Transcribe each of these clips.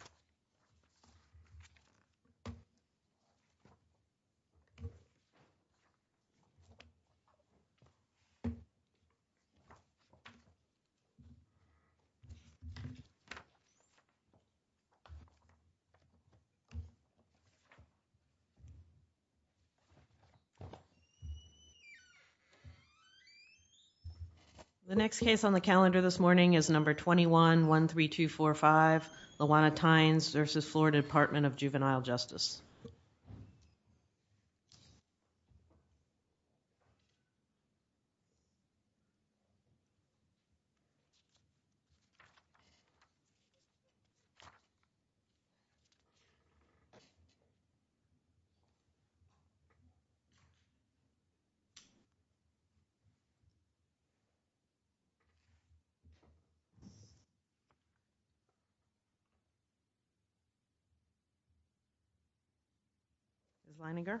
Office. The next case on the calendar this morning is No. 21-13245, Lawanna Tynes v. Florida Department of Juvenile Justice. Ms. Leininger,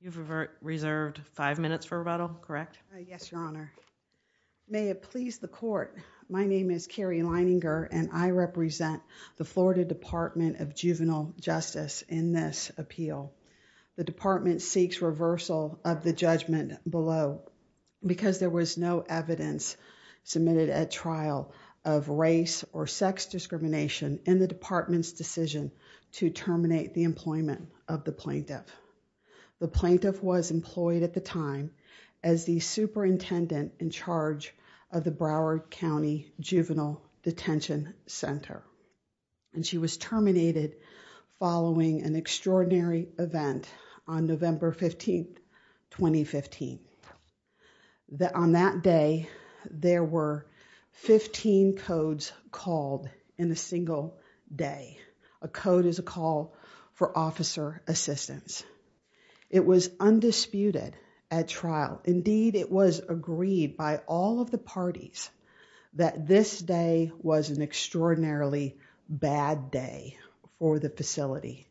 you have reserved five minutes for rebuttal, correct? Yes, Your Honor. May it please the Court, my name is Carrie Leininger and I represent the Florida Department of Juvenile Justice in this appeal. The Department seeks reversal of the judgment below because there was no evidence submitted at trial of race or sex discrimination in the Department's decision to terminate the employment of the plaintiff. The plaintiff was employed at the time as the superintendent in charge of the Broward County Juvenile Detention Center. She was terminated following an extraordinary event on November 15, 2015. On that day, there were 15 codes called in a single day. A code is a call for officer assistance. It was undisputed at trial. Indeed, it was agreed by all of the parties that this day was an extraordinarily bad day for the facility.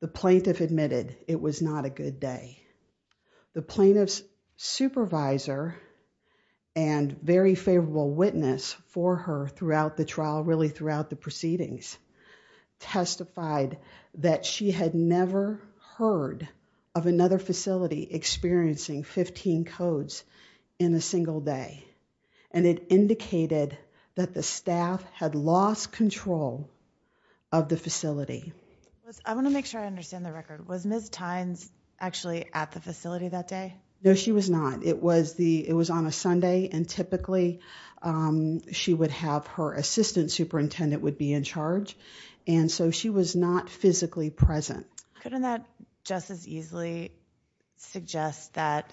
The plaintiff admitted it was not a good day. The plaintiff's supervisor and very favorable witness for her throughout the trial, really throughout the proceedings, testified that she had never heard of another facility experiencing 15 codes in a single day and it indicated that the staff had lost control of the facility. I want to make sure I understand the record. Was Ms. Tynes actually at the facility that day? No, she was not. It was on a Sunday and typically she would have her assistant superintendent would be in charge and so she was not physically present. Couldn't that just as easily suggest that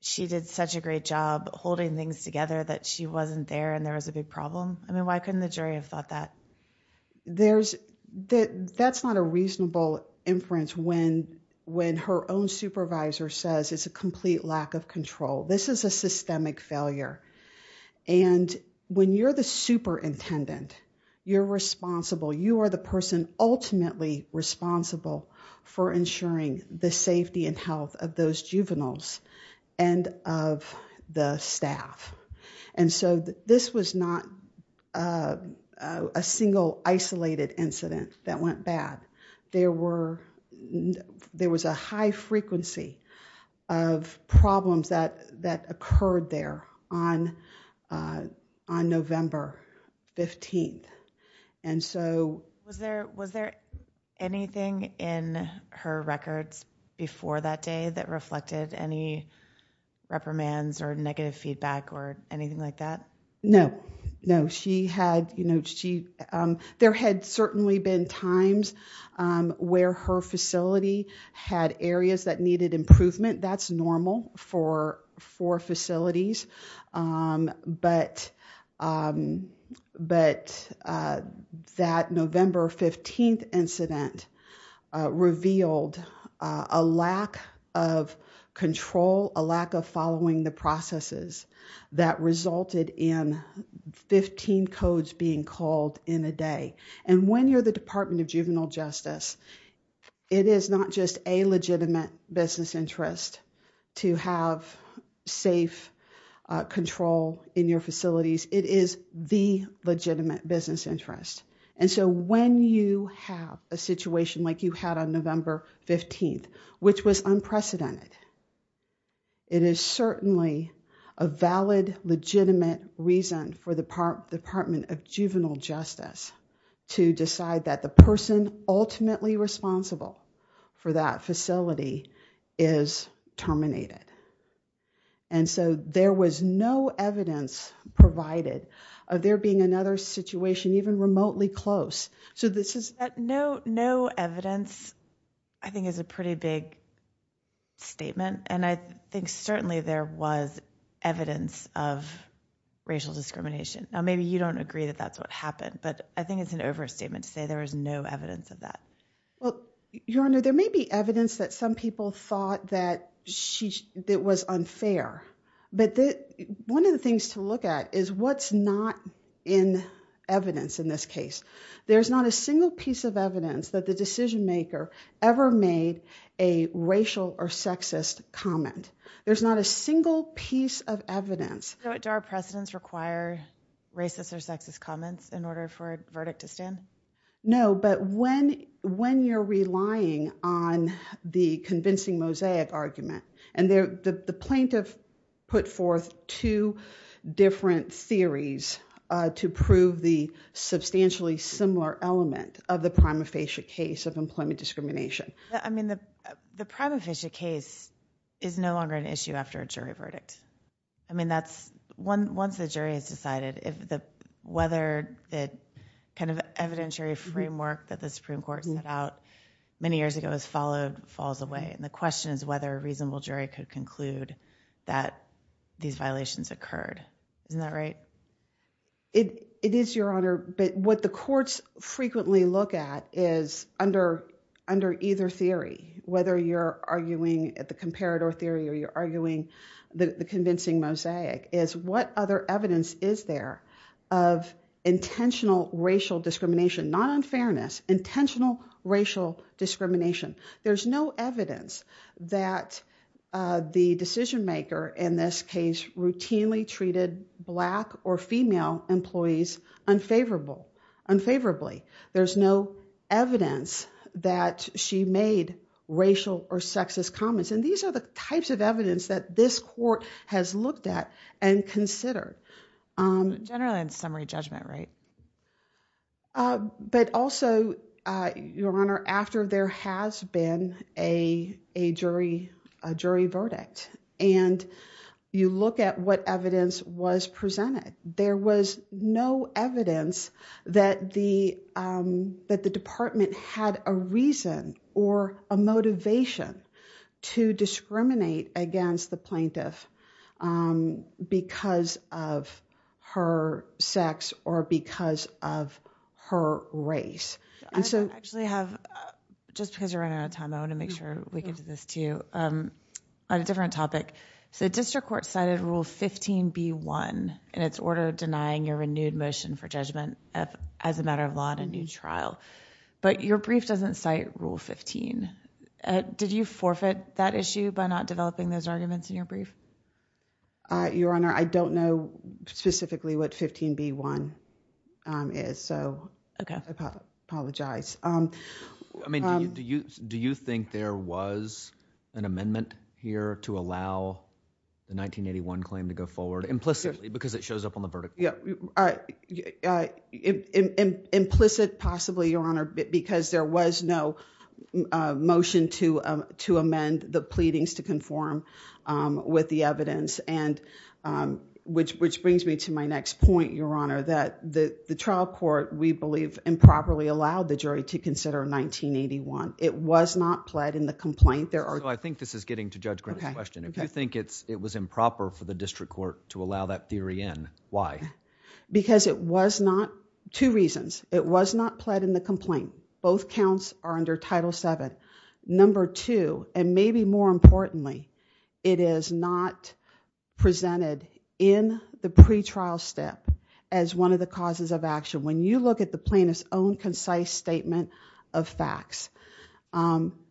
she did such a great job holding things together that she wasn't there and there was a big problem? Why couldn't the jury have thought that? That's not a reasonable inference when her own supervisor says it's a complete lack of control. This is a systemic failure and when you're the superintendent, you're responsible, you are the person ultimately responsible for ensuring the safety and health of those juveniles and of the staff. And so this was not a single isolated incident that went bad. There was a high frequency of problems that occurred there on November 15th and so Was there anything in her records before that day that reflected any reprimands or negative feedback or anything like that? No, no. She had, you know, she, there had certainly been times where her facility had areas that needed improvement. That's normal for facilities, but that November 15th incident revealed a lack of control, a lack of following the processes that resulted in 15 codes being called in a day. And when you're the Department of Juvenile Justice, it is not just a legitimate business interest to have safe control in your facilities, it is the legitimate business interest. And so when you have a situation like you had on November 15th, which was unprecedented, it is certainly a valid, legitimate reason for the Department of Juvenile Justice to decide that the person ultimately responsible for that facility is terminated. And so there was no evidence provided of there being another situation even remotely close. So this is No, no evidence I think is a pretty big statement and I think certainly there was evidence of racial discrimination. Now maybe you don't agree that that's what happened, but I think it's an overstatement to say there was no evidence of that. Well, Your Honor, there may be evidence that some people thought that was unfair, but one of the things to look at is what's not in evidence in this case. There's not a single piece of evidence that the decision maker ever made a racial or sexist comment. There's not a single piece of evidence. So do our precedents require racist or sexist comments in order for a verdict to stand? No, but when you're relying on the convincing mosaic argument, and the plaintiff put forth two different theories to prove the substantially similar element of the prima facie case of employment discrimination. I mean, the prima facie case is no longer an issue after a jury verdict. I mean, once the jury has decided, whether the kind of evidentiary framework that the Supreme Court set out many years ago is followed falls away. And the question is whether a reasonable jury could conclude that these violations occurred. Isn't that right? It is, Your Honor, but what the courts frequently look at is under either theory, whether you're using the convincing mosaic, is what other evidence is there of intentional racial discrimination, not unfairness, intentional racial discrimination. There's no evidence that the decision maker in this case routinely treated black or female employees unfavorably. There's no evidence that she made racial or sexist comments. And these are the types of evidence that this court has looked at and considered. Generally, in summary judgment, right? But also, Your Honor, after there has been a jury verdict, and you look at what evidence was presented, there was no evidence that the department had a reason or a motivation to discriminate against the plaintiff because of her sex or because of her race. I actually have, just because you're running out of time, I want to make sure we get to this, too. On a different topic, so the district court cited Rule 15b-1 in its order denying your renewed motion for judgment as a matter of law in a new trial. But your brief doesn't cite Rule 15. Did you forfeit that issue by not developing those arguments in your brief? Your Honor, I don't know specifically what 15b-1 is, so I apologize. Do you think there was an amendment here to allow the 1981 claim to go forward, implicitly, because it shows up on the vertical? Implicit, possibly, Your Honor, because there was no motion to amend the pleadings to conform with the evidence, which brings me to my next point, Your Honor, that the trial court, we believe, improperly allowed the jury to consider 1981. It was not pled in the complaint. I think this is getting to Judge Green's question. If you think it was improper for the district court to allow that theory in, why? Because it was not, two reasons. It was not pled in the complaint. Both counts are under Title VII. Number two, and maybe more importantly, it is not presented in the pretrial step as one of the causes of action. When you look at the plaintiff's own concise statement of facts,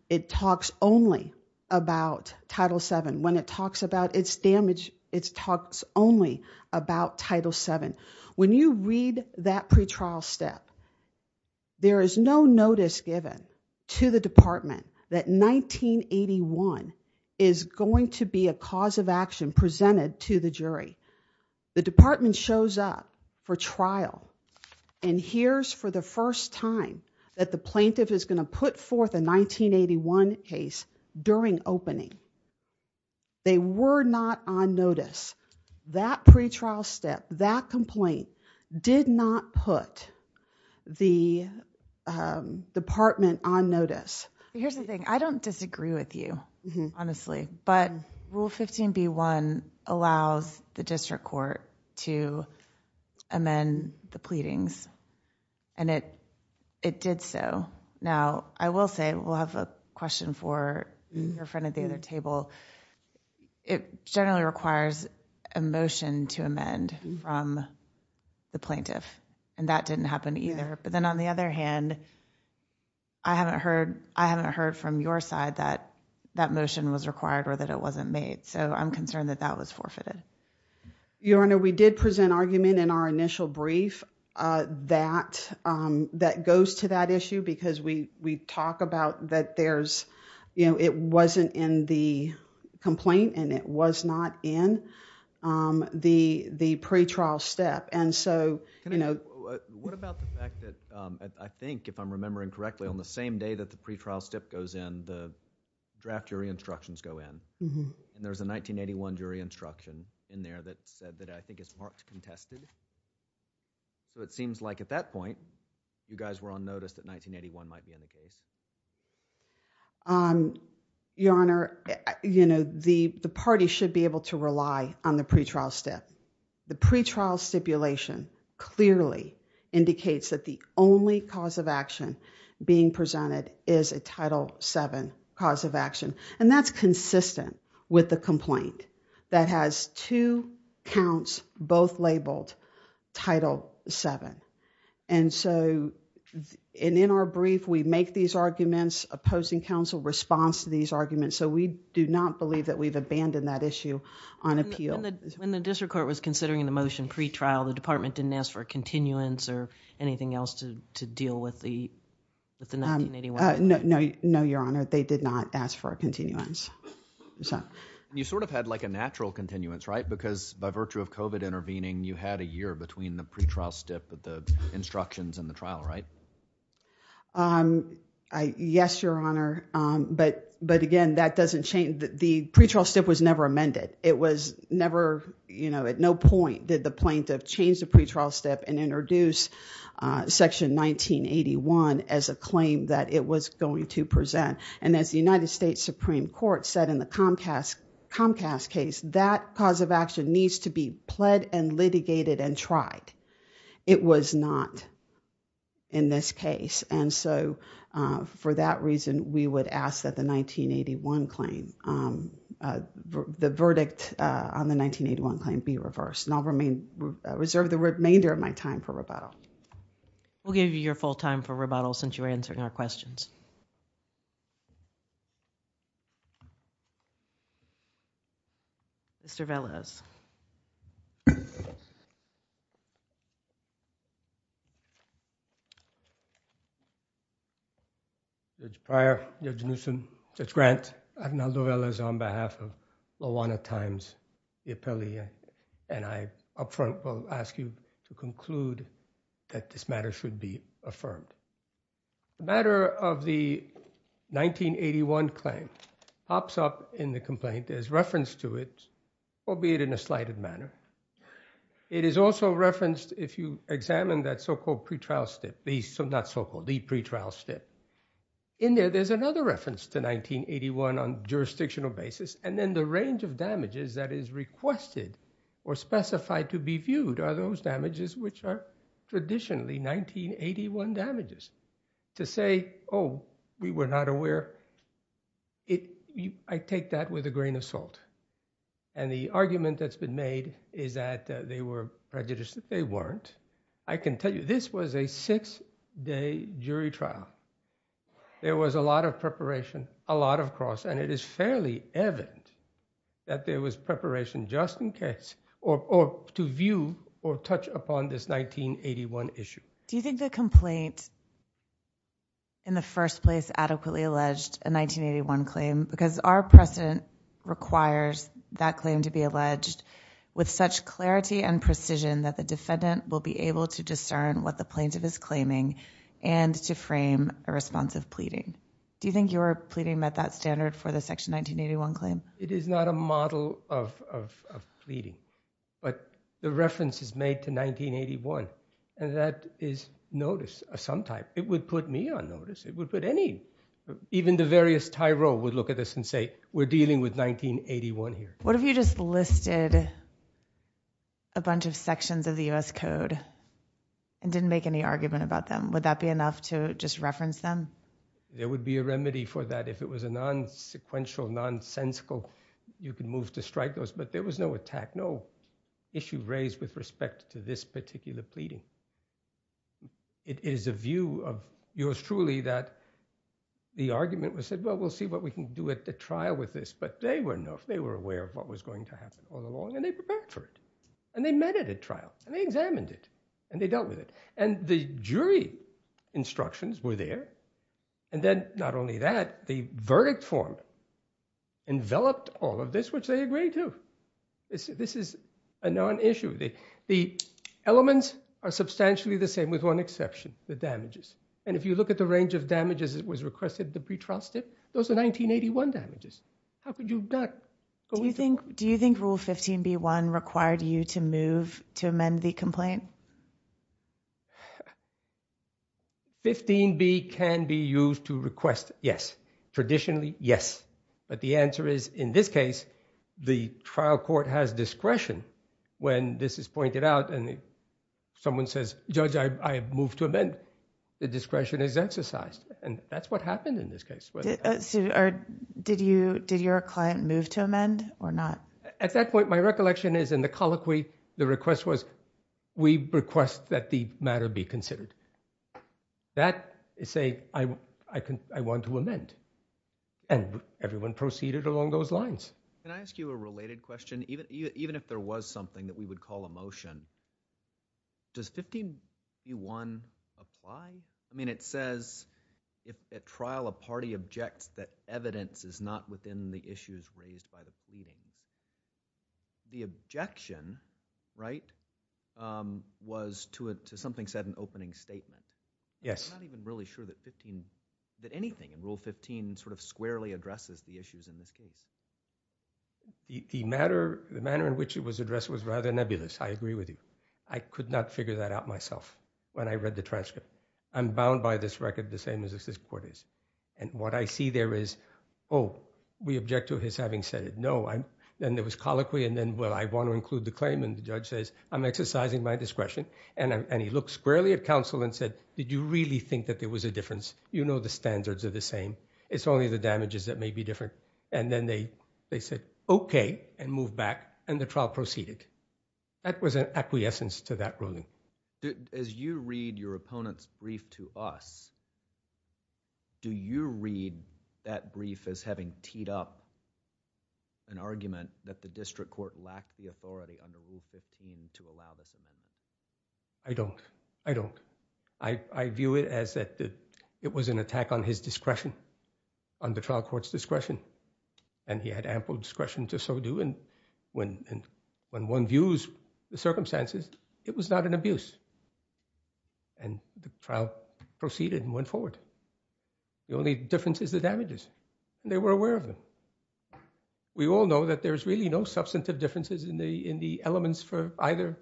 it talks only about Title VII. When it talks about its damage, it talks only about Title VII. When you read that pretrial step, there is no notice given to the department that 1981 is going to be a cause of action presented to the jury. The department shows up for trial and hears for the first time that the plaintiff is going to put forth a 1981 case during opening. They were not on notice. That pretrial step, that complaint, did not put the department on notice. Here's the thing. I don't disagree with you, honestly, but Rule 15b-1 allows the district court to amend the pleadings and it did so. I will say, we'll have a question for your friend at the other table. It generally requires a motion to amend from the plaintiff. That didn't happen either. On the other hand, I haven't heard from your side that that motion was required or that it wasn't made. I'm concerned that that was forfeited. Your Honor, we did present argument in our initial brief that goes to that issue because we talk about that it wasn't in the complaint and it was not in the pretrial step. What about the fact that I think, if I'm remembering correctly, on the same day that the pretrial step goes in, the draft jury instructions go in and there's a 1981 jury instruction in there that said that I think it's marked contested. It seems like at that point, you guys were on notice that 1981 might be in the case. Your Honor, the party should be able to rely on the pretrial step. The pretrial stipulation clearly indicates that the only cause of action being presented is a Title VII cause of action. That's consistent with the complaint that has two counts both labeled Title VII. In our brief, we make these arguments opposing counsel response to these arguments. We do not believe that we've abandoned that issue on appeal. When the district court was considering the motion pretrial, the department didn't ask for a continuance or anything else to deal with the 1981? No, Your Honor. They did not ask for a continuance. You sort of had a natural continuance, right? Because by virtue of COVID intervening, you had a year between the pretrial step, the instructions and the trial, right? Yes, Your Honor. Again, that doesn't change. The pretrial step was never amended. It was never, at no point did the plaintiff change the pretrial step and introduce Section 1981 as a claim that it was going to present. As the United States Supreme Court said in the Comcast case, that cause of action needs to be pled and litigated and tried. It was not in this case. For that reason, we would ask that the 1981 claim, the verdict on the 1981 claim be reversed. I'll reserve the remainder of my time for rebuttal. We'll give you your full time for rebuttal since you're answering our questions. Mr. Velez. Judge Pryor, Judge Newsom, Judge Grant, Arnaldo Velez on behalf of Lawana Times, the appellee, and I up front will ask you to conclude that this matter should be affirmed. The matter of the 1981 claim pops up in the complaint as reference to it, albeit in a slighted manner. It is also referenced if you examine that so-called pretrial step, not so-called, the pretrial step. In there, there's another reference to 1981 on jurisdictional basis, and then the range of damages that is requested or specified to be viewed are those damages which are traditionally 1981 damages. To say, oh, we were not aware, I take that with a grain of salt. And the argument that's been made is that they were prejudiced, they weren't. I can tell you this was a six-day jury trial. There was a lot of preparation, a lot of cross, and it is fairly evident that there was preparation just in case or to view or touch upon this 1981 issue. Do you think the complaint in the first place adequately alleged a 1981 claim because our precedent requires that claim to be alleged with such clarity and precision that the defendant will be able to discern what the plaintiff is claiming and to frame a response of pleading? Do you think your pleading met that standard for the Section 1981 claim? It is not a model of pleading, but the reference is made to 1981, and that is noticed sometime. It would put me on notice. It would put any, even the various Tyroles would look at this and say, we're dealing with 1981 here. What if you just listed a bunch of sections of the U.S. Code and didn't make any argument about them? Would that be enough to just reference them? There would be a remedy for that. If it was a non-sequential, nonsensical, you could move to strike those. But there was no attack, no issue raised with respect to this particular pleading. It is a view of yours truly that the argument was said, well, we'll see what we can do at the trial with this. But they were aware of what was going to happen all along, and they prepared for it. And they met it at trials, and they examined it, and they dealt with it. And the jury instructions were there. And then not only that, the verdict form enveloped all of this, which they agreed to. This is a non-issue. The elements are substantially the same, with one exception, the damages. And if you look at the range of damages that was requested at the pre-trial step, those are 1981 damages. How could you not go into- Do you think Rule 15b-1 required you to move to amend the complaint? 15b can be used to request, yes. Traditionally, yes. But the answer is, in this case, the trial court has discretion. When this is pointed out and someone says, judge, I have moved to amend, the discretion is exercised. And that's what happened in this case. Did your client move to amend or not? At that point, my recollection is in the colloquy, the request was, we request that the matter be considered. That is saying, I want to amend. And everyone proceeded along those lines. Can I ask you a related question? Even if there was something that we would call a motion, does 15b-1 apply? I mean, it says, if at trial a party objects that evidence is not within the issues raised by the pleading, the objection, right, was to something said in opening statement. Yes. I'm not even really sure that 15, that anything in Rule 15 sort of squarely addresses the issues in this case. The matter, the manner in which it was addressed was rather nebulous. I agree with you. I could not figure that out myself when I read the transcript. I'm bound by this record the same as this court is. And what I see there is, oh, we object to his having said it. No, I'm, then there was colloquy, and then, well, I want to include the claim. And the judge says, I'm exercising my discretion. And he looked squarely at counsel and said, did you really think that there was a difference? You know the standards are the same. It's only the damages that may be different. And then they said, OK, and moved back, and the trial proceeded. That was an acquiescence to that ruling. As you read your opponent's brief to us, do you read that brief as having teed up an argument that the district court lacked the authority under Rule 15 to allow this? I don't. I view it as that it was an attack on his discretion, on the trial court's discretion. And he had ample discretion to so do. And when one views the circumstances, it was not an abuse. And the trial proceeded and went forward. The only difference is the damages. They were aware of them. We all know that there's really no substantive differences in the elements for either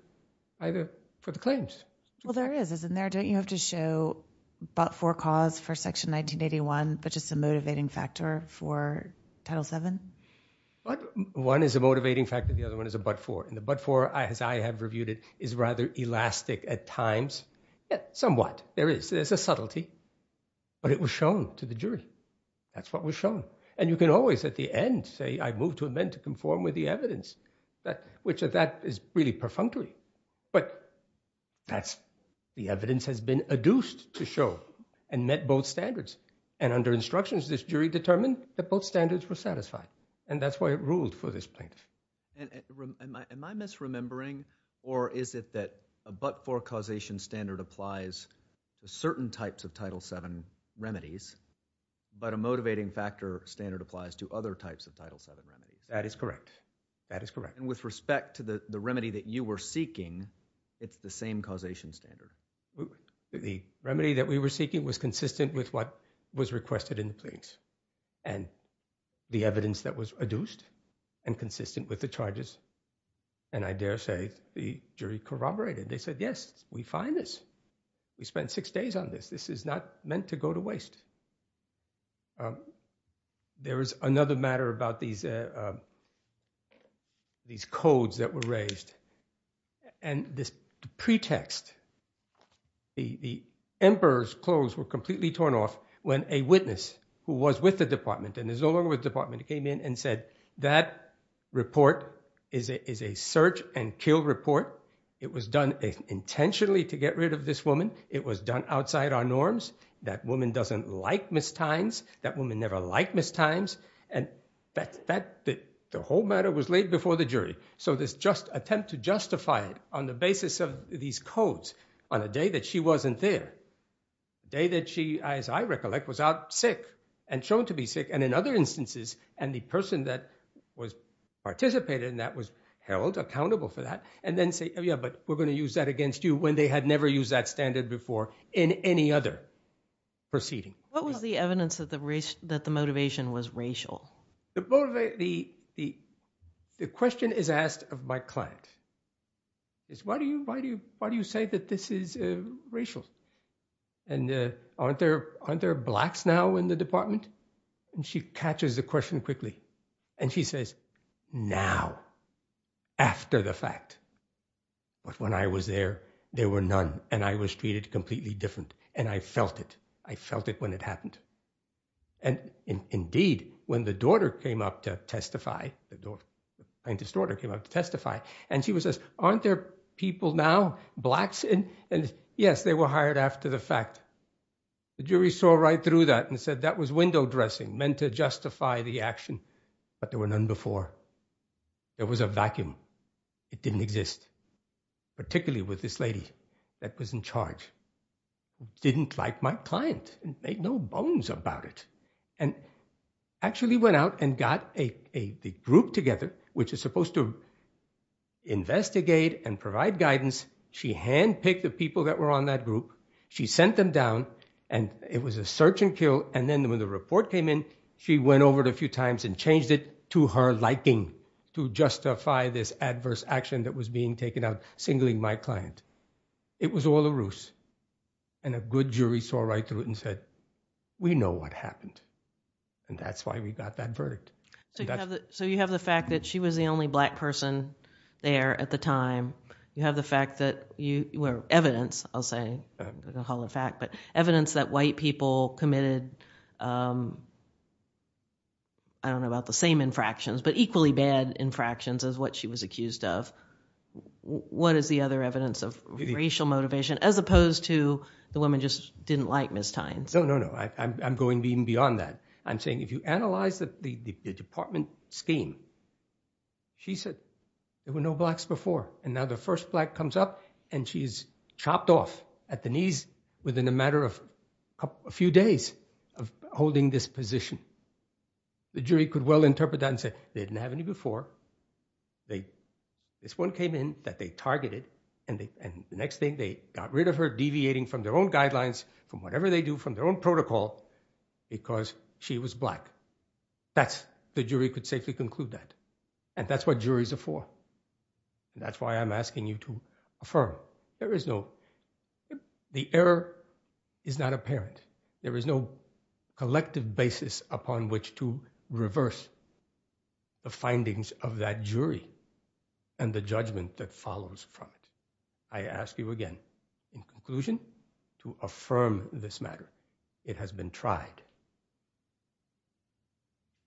for the claims. Well, there is, isn't there? Don't you have to show but-for cause for Section 1981, which is the motivating factor for Title VII? But one is a motivating factor. The other one is a but-for. And the but-for, as I have reviewed it, is rather elastic at times, somewhat. There is. There's a subtlety. But it was shown to the jury. That's what was shown. And you can always, at the end, say, I move to amend to conform with the evidence, which is really perfunctory. But the evidence has been adduced to show and met both standards. And under instructions, this jury determined that both standards were satisfied. And that's why it ruled for this plaintiff. Am I misremembering, or is it that a but-for causation standard applies to certain types of Title VII remedies, but a motivating factor standard applies to other types of Title VII remedies? That is correct. That is correct. And with respect to the remedy that you were seeking, it's the same causation standard? The remedy that we were seeking was consistent with what was requested in the plaintiffs. And the evidence that was adduced and consistent with the charges, and I dare say the jury corroborated. They said, yes, we find this. We spent six days on this. This is not meant to go to waste. There is another matter about these codes that were raised. And this pretext, the emperor's clothes were completely torn off when a witness who was with the department, and is no longer with the department, came in and said, that report is a search and kill report. It was done intentionally to get rid of this woman. It was done outside our norms. That woman doesn't like mistimes. That woman never liked mistimes. And the whole matter was laid before the jury. So this attempt to justify it on the basis of these codes on a day that she wasn't there, day that she, as I recollect, was out sick and shown to be sick, and in other instances, and the person that participated in that was held accountable for that, and then say, yeah, but we're going to use that against you when they had never used that standard before in any other proceeding. What was the evidence that the motivation was racial? The question is asked of my client is, why do you say that this is racial? And aren't there blacks now in the department? And she catches the question quickly. And she says, now, after the fact. But when I was there, there were none. And I was treated completely different. And I felt it. I felt it when it happened. And indeed, when the daughter came up to testify, the plaintiff's daughter came up to testify, and she says, aren't there people now, blacks? And yes, they were hired after the fact. The jury saw right through that and said, that was window dressing, meant to justify the action. But there were none before. There was a vacuum. It didn't exist, particularly with this lady that was in charge, who didn't like my client, and made no bones about it. And actually went out and got a group together, which is supposed to investigate and provide guidance. She handpicked the people that were on that group. She sent them down, and it was a search and kill. And then when the report came in, she went over it a few times and changed it to her liking, to justify this adverse action that was being taken out, singling my client. It was all a ruse. And a good jury saw right through it and said, we know what happened. And that's why we got that verdict. So you have the fact that she was the only black person there at the time. You have the fact that you were evidence, I'll say, I'll call it a fact, but evidence that white people committed, I don't know about the same infractions, but equally bad infractions, is what she was accused of. What is the other evidence of racial motivation, as opposed to the woman just didn't like Ms. Tynes? No, no, no, I'm going even beyond that. I'm saying if you analyze the department scheme, she said there were no blacks before. And now the first black comes up and she's chopped off at the knees within a matter of a few days of holding this position. The jury could well interpret that and say, they didn't have any before. This one came in that they targeted, and the next thing, they got rid of her, deviating from their own guidelines, from whatever they do, from their own protocol, because she was black. That's, the jury could safely conclude that. And that's what juries are for. That's why I'm asking you to affirm. There is no, the error is not apparent. There is no collective basis upon which to reverse the findings of that jury and the judgment that follows from it. I ask you again, in conclusion, to affirm this matter. It has been tried.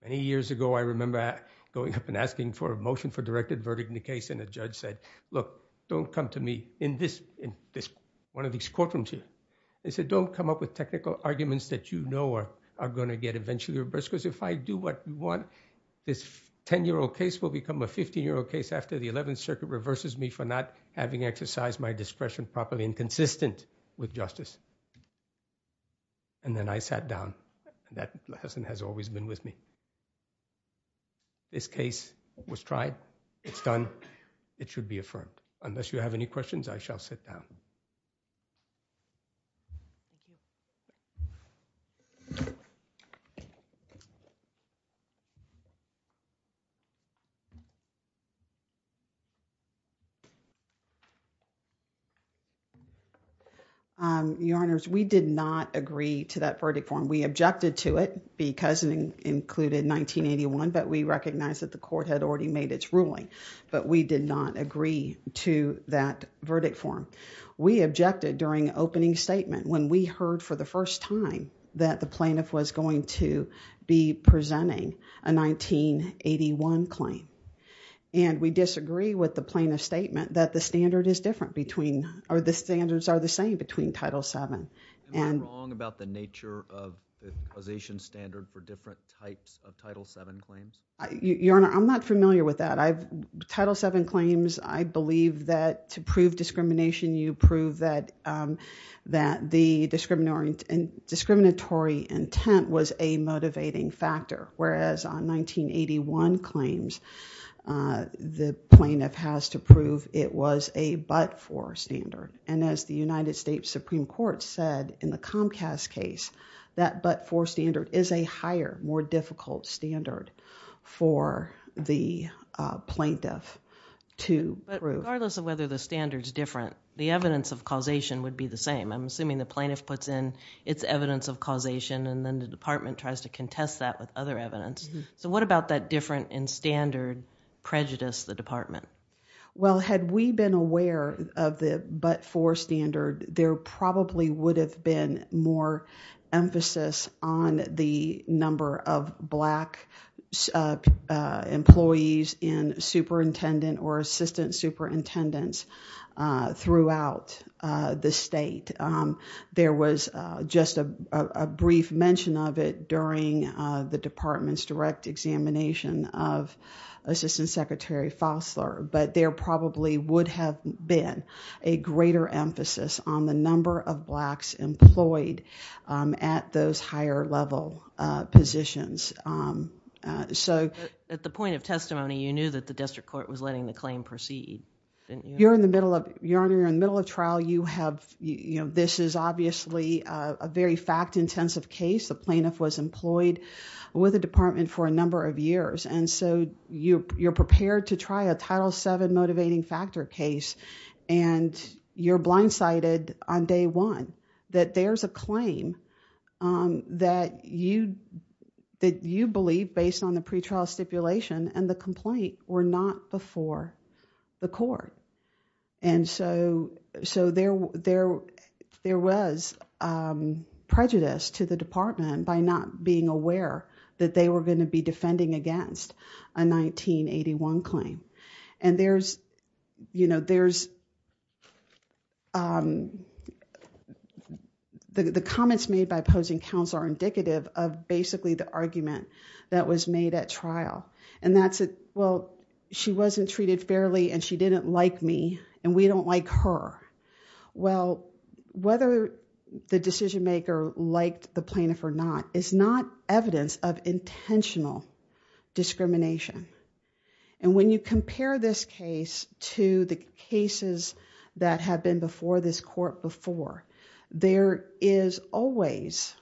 Many years ago, I remember going up and asking for a motion for directed verdict in a case, and a judge said, look, don't come to me in this, in this, one of these courtrooms here. They said, don't come up with technical arguments that you know are, are going to get eventually reversed. Because if I do what you want, this 10-year-old case will become a 15-year-old case after the 11th Circuit reverses me for not having exercised my discretion properly and consistent with justice. And then I sat down. And that lesson has always been with me. This case was tried. It's done. It should be affirmed. Unless you have any questions, I shall sit down. Um, Your Honors, we did not agree to that verdict form. We objected to it because it included 1981, but we recognize that the court had already made its ruling. But we did not agree to that verdict form. We objected during opening statement when we heard for the first time that the plaintiff was going to be presenting a 1981 claim. And we disagree with the plaintiff's statement that the standard is different between, or the standards are the same between Title VII. Am I wrong about the nature of the causation standard for different types of Title VII claims? Your Honor, I'm not familiar with that. I've, Title VII claims, I believe that to prove discrimination, you prove that the discriminatory intent was a motivating factor. Whereas on 1981 claims, the plaintiff has to prove it was a but-for standard. And as the United States Supreme Court said in the Comcast case, that but-for standard is a higher, more difficult standard for the plaintiff to prove. But regardless of whether the standard's different, the evidence of causation would be the same. I'm assuming the plaintiff puts in its evidence of causation, and then the department tries to contest that with other evidence. So what about that different in standard prejudice the department? Well, had we been aware of the but-for standard, there probably would have been more emphasis on the number of black employees in superintendent or assistant superintendents throughout the state. There was just a brief mention of it during the department's direct examination of Assistant Secretary Fosler. But there probably would have been a greater emphasis on the number of blacks employed at those higher level positions. So at the point of testimony, you knew that the district court was letting the claim proceed, didn't you? You're in the middle of trial. This is obviously a very fact-intensive case. The plaintiff was employed with the department for a number of years. And so you're prepared to try a Title VII motivating factor case, and you're blindsided on day one that there's a claim that you believe based on the pretrial stipulation and the complaint were not before the court. And so there was prejudice to the department by not being aware that they were going to be defending against a 1981 claim. And the comments made by opposing counsel are indicative and that's it. Well, she wasn't treated fairly and she didn't like me and we don't like her. Well, whether the decision maker liked the plaintiff or not is not evidence of intentional discrimination. And when you compare this case to the cases that have been before this court before, there is always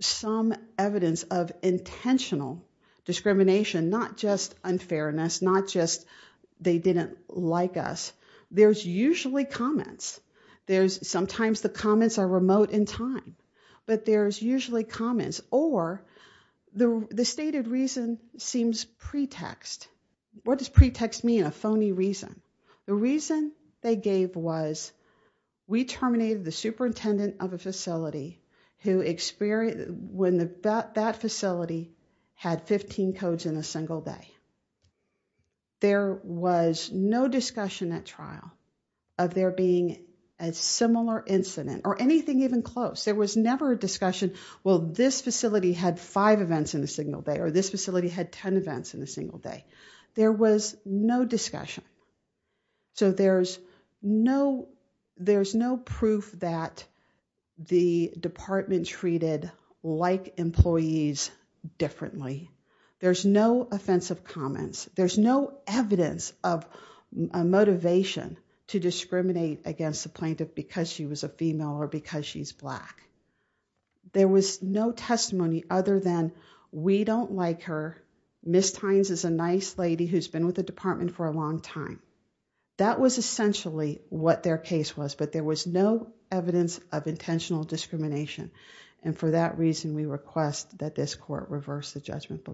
some evidence of intentional discrimination, not just unfairness, not just they didn't like us. There's usually comments. Sometimes the comments are remote in time, but there's usually comments. Or the stated reason seems pretext. What does pretext mean? A phony reason. The reason they gave was, we terminated the superintendent of a facility when that facility had 15 codes in a single day. There was no discussion at trial of there being a similar incident or anything even close. There was never a discussion. Well, this facility had five events in a single day or this facility had 10 events in a single day. There was no discussion. So there's no, there's no proof that the department treated like employees differently. There's no offensive comments. There's no evidence of a motivation to discriminate against the plaintiff because she was a female or because she's black. There was no testimony other than we don't like her. Miss Tynes is a nice lady who's been with the department for a long time. That was essentially what their case was, but there was no evidence of intentional discrimination. And for that reason, we request that this court reverse the judgment below.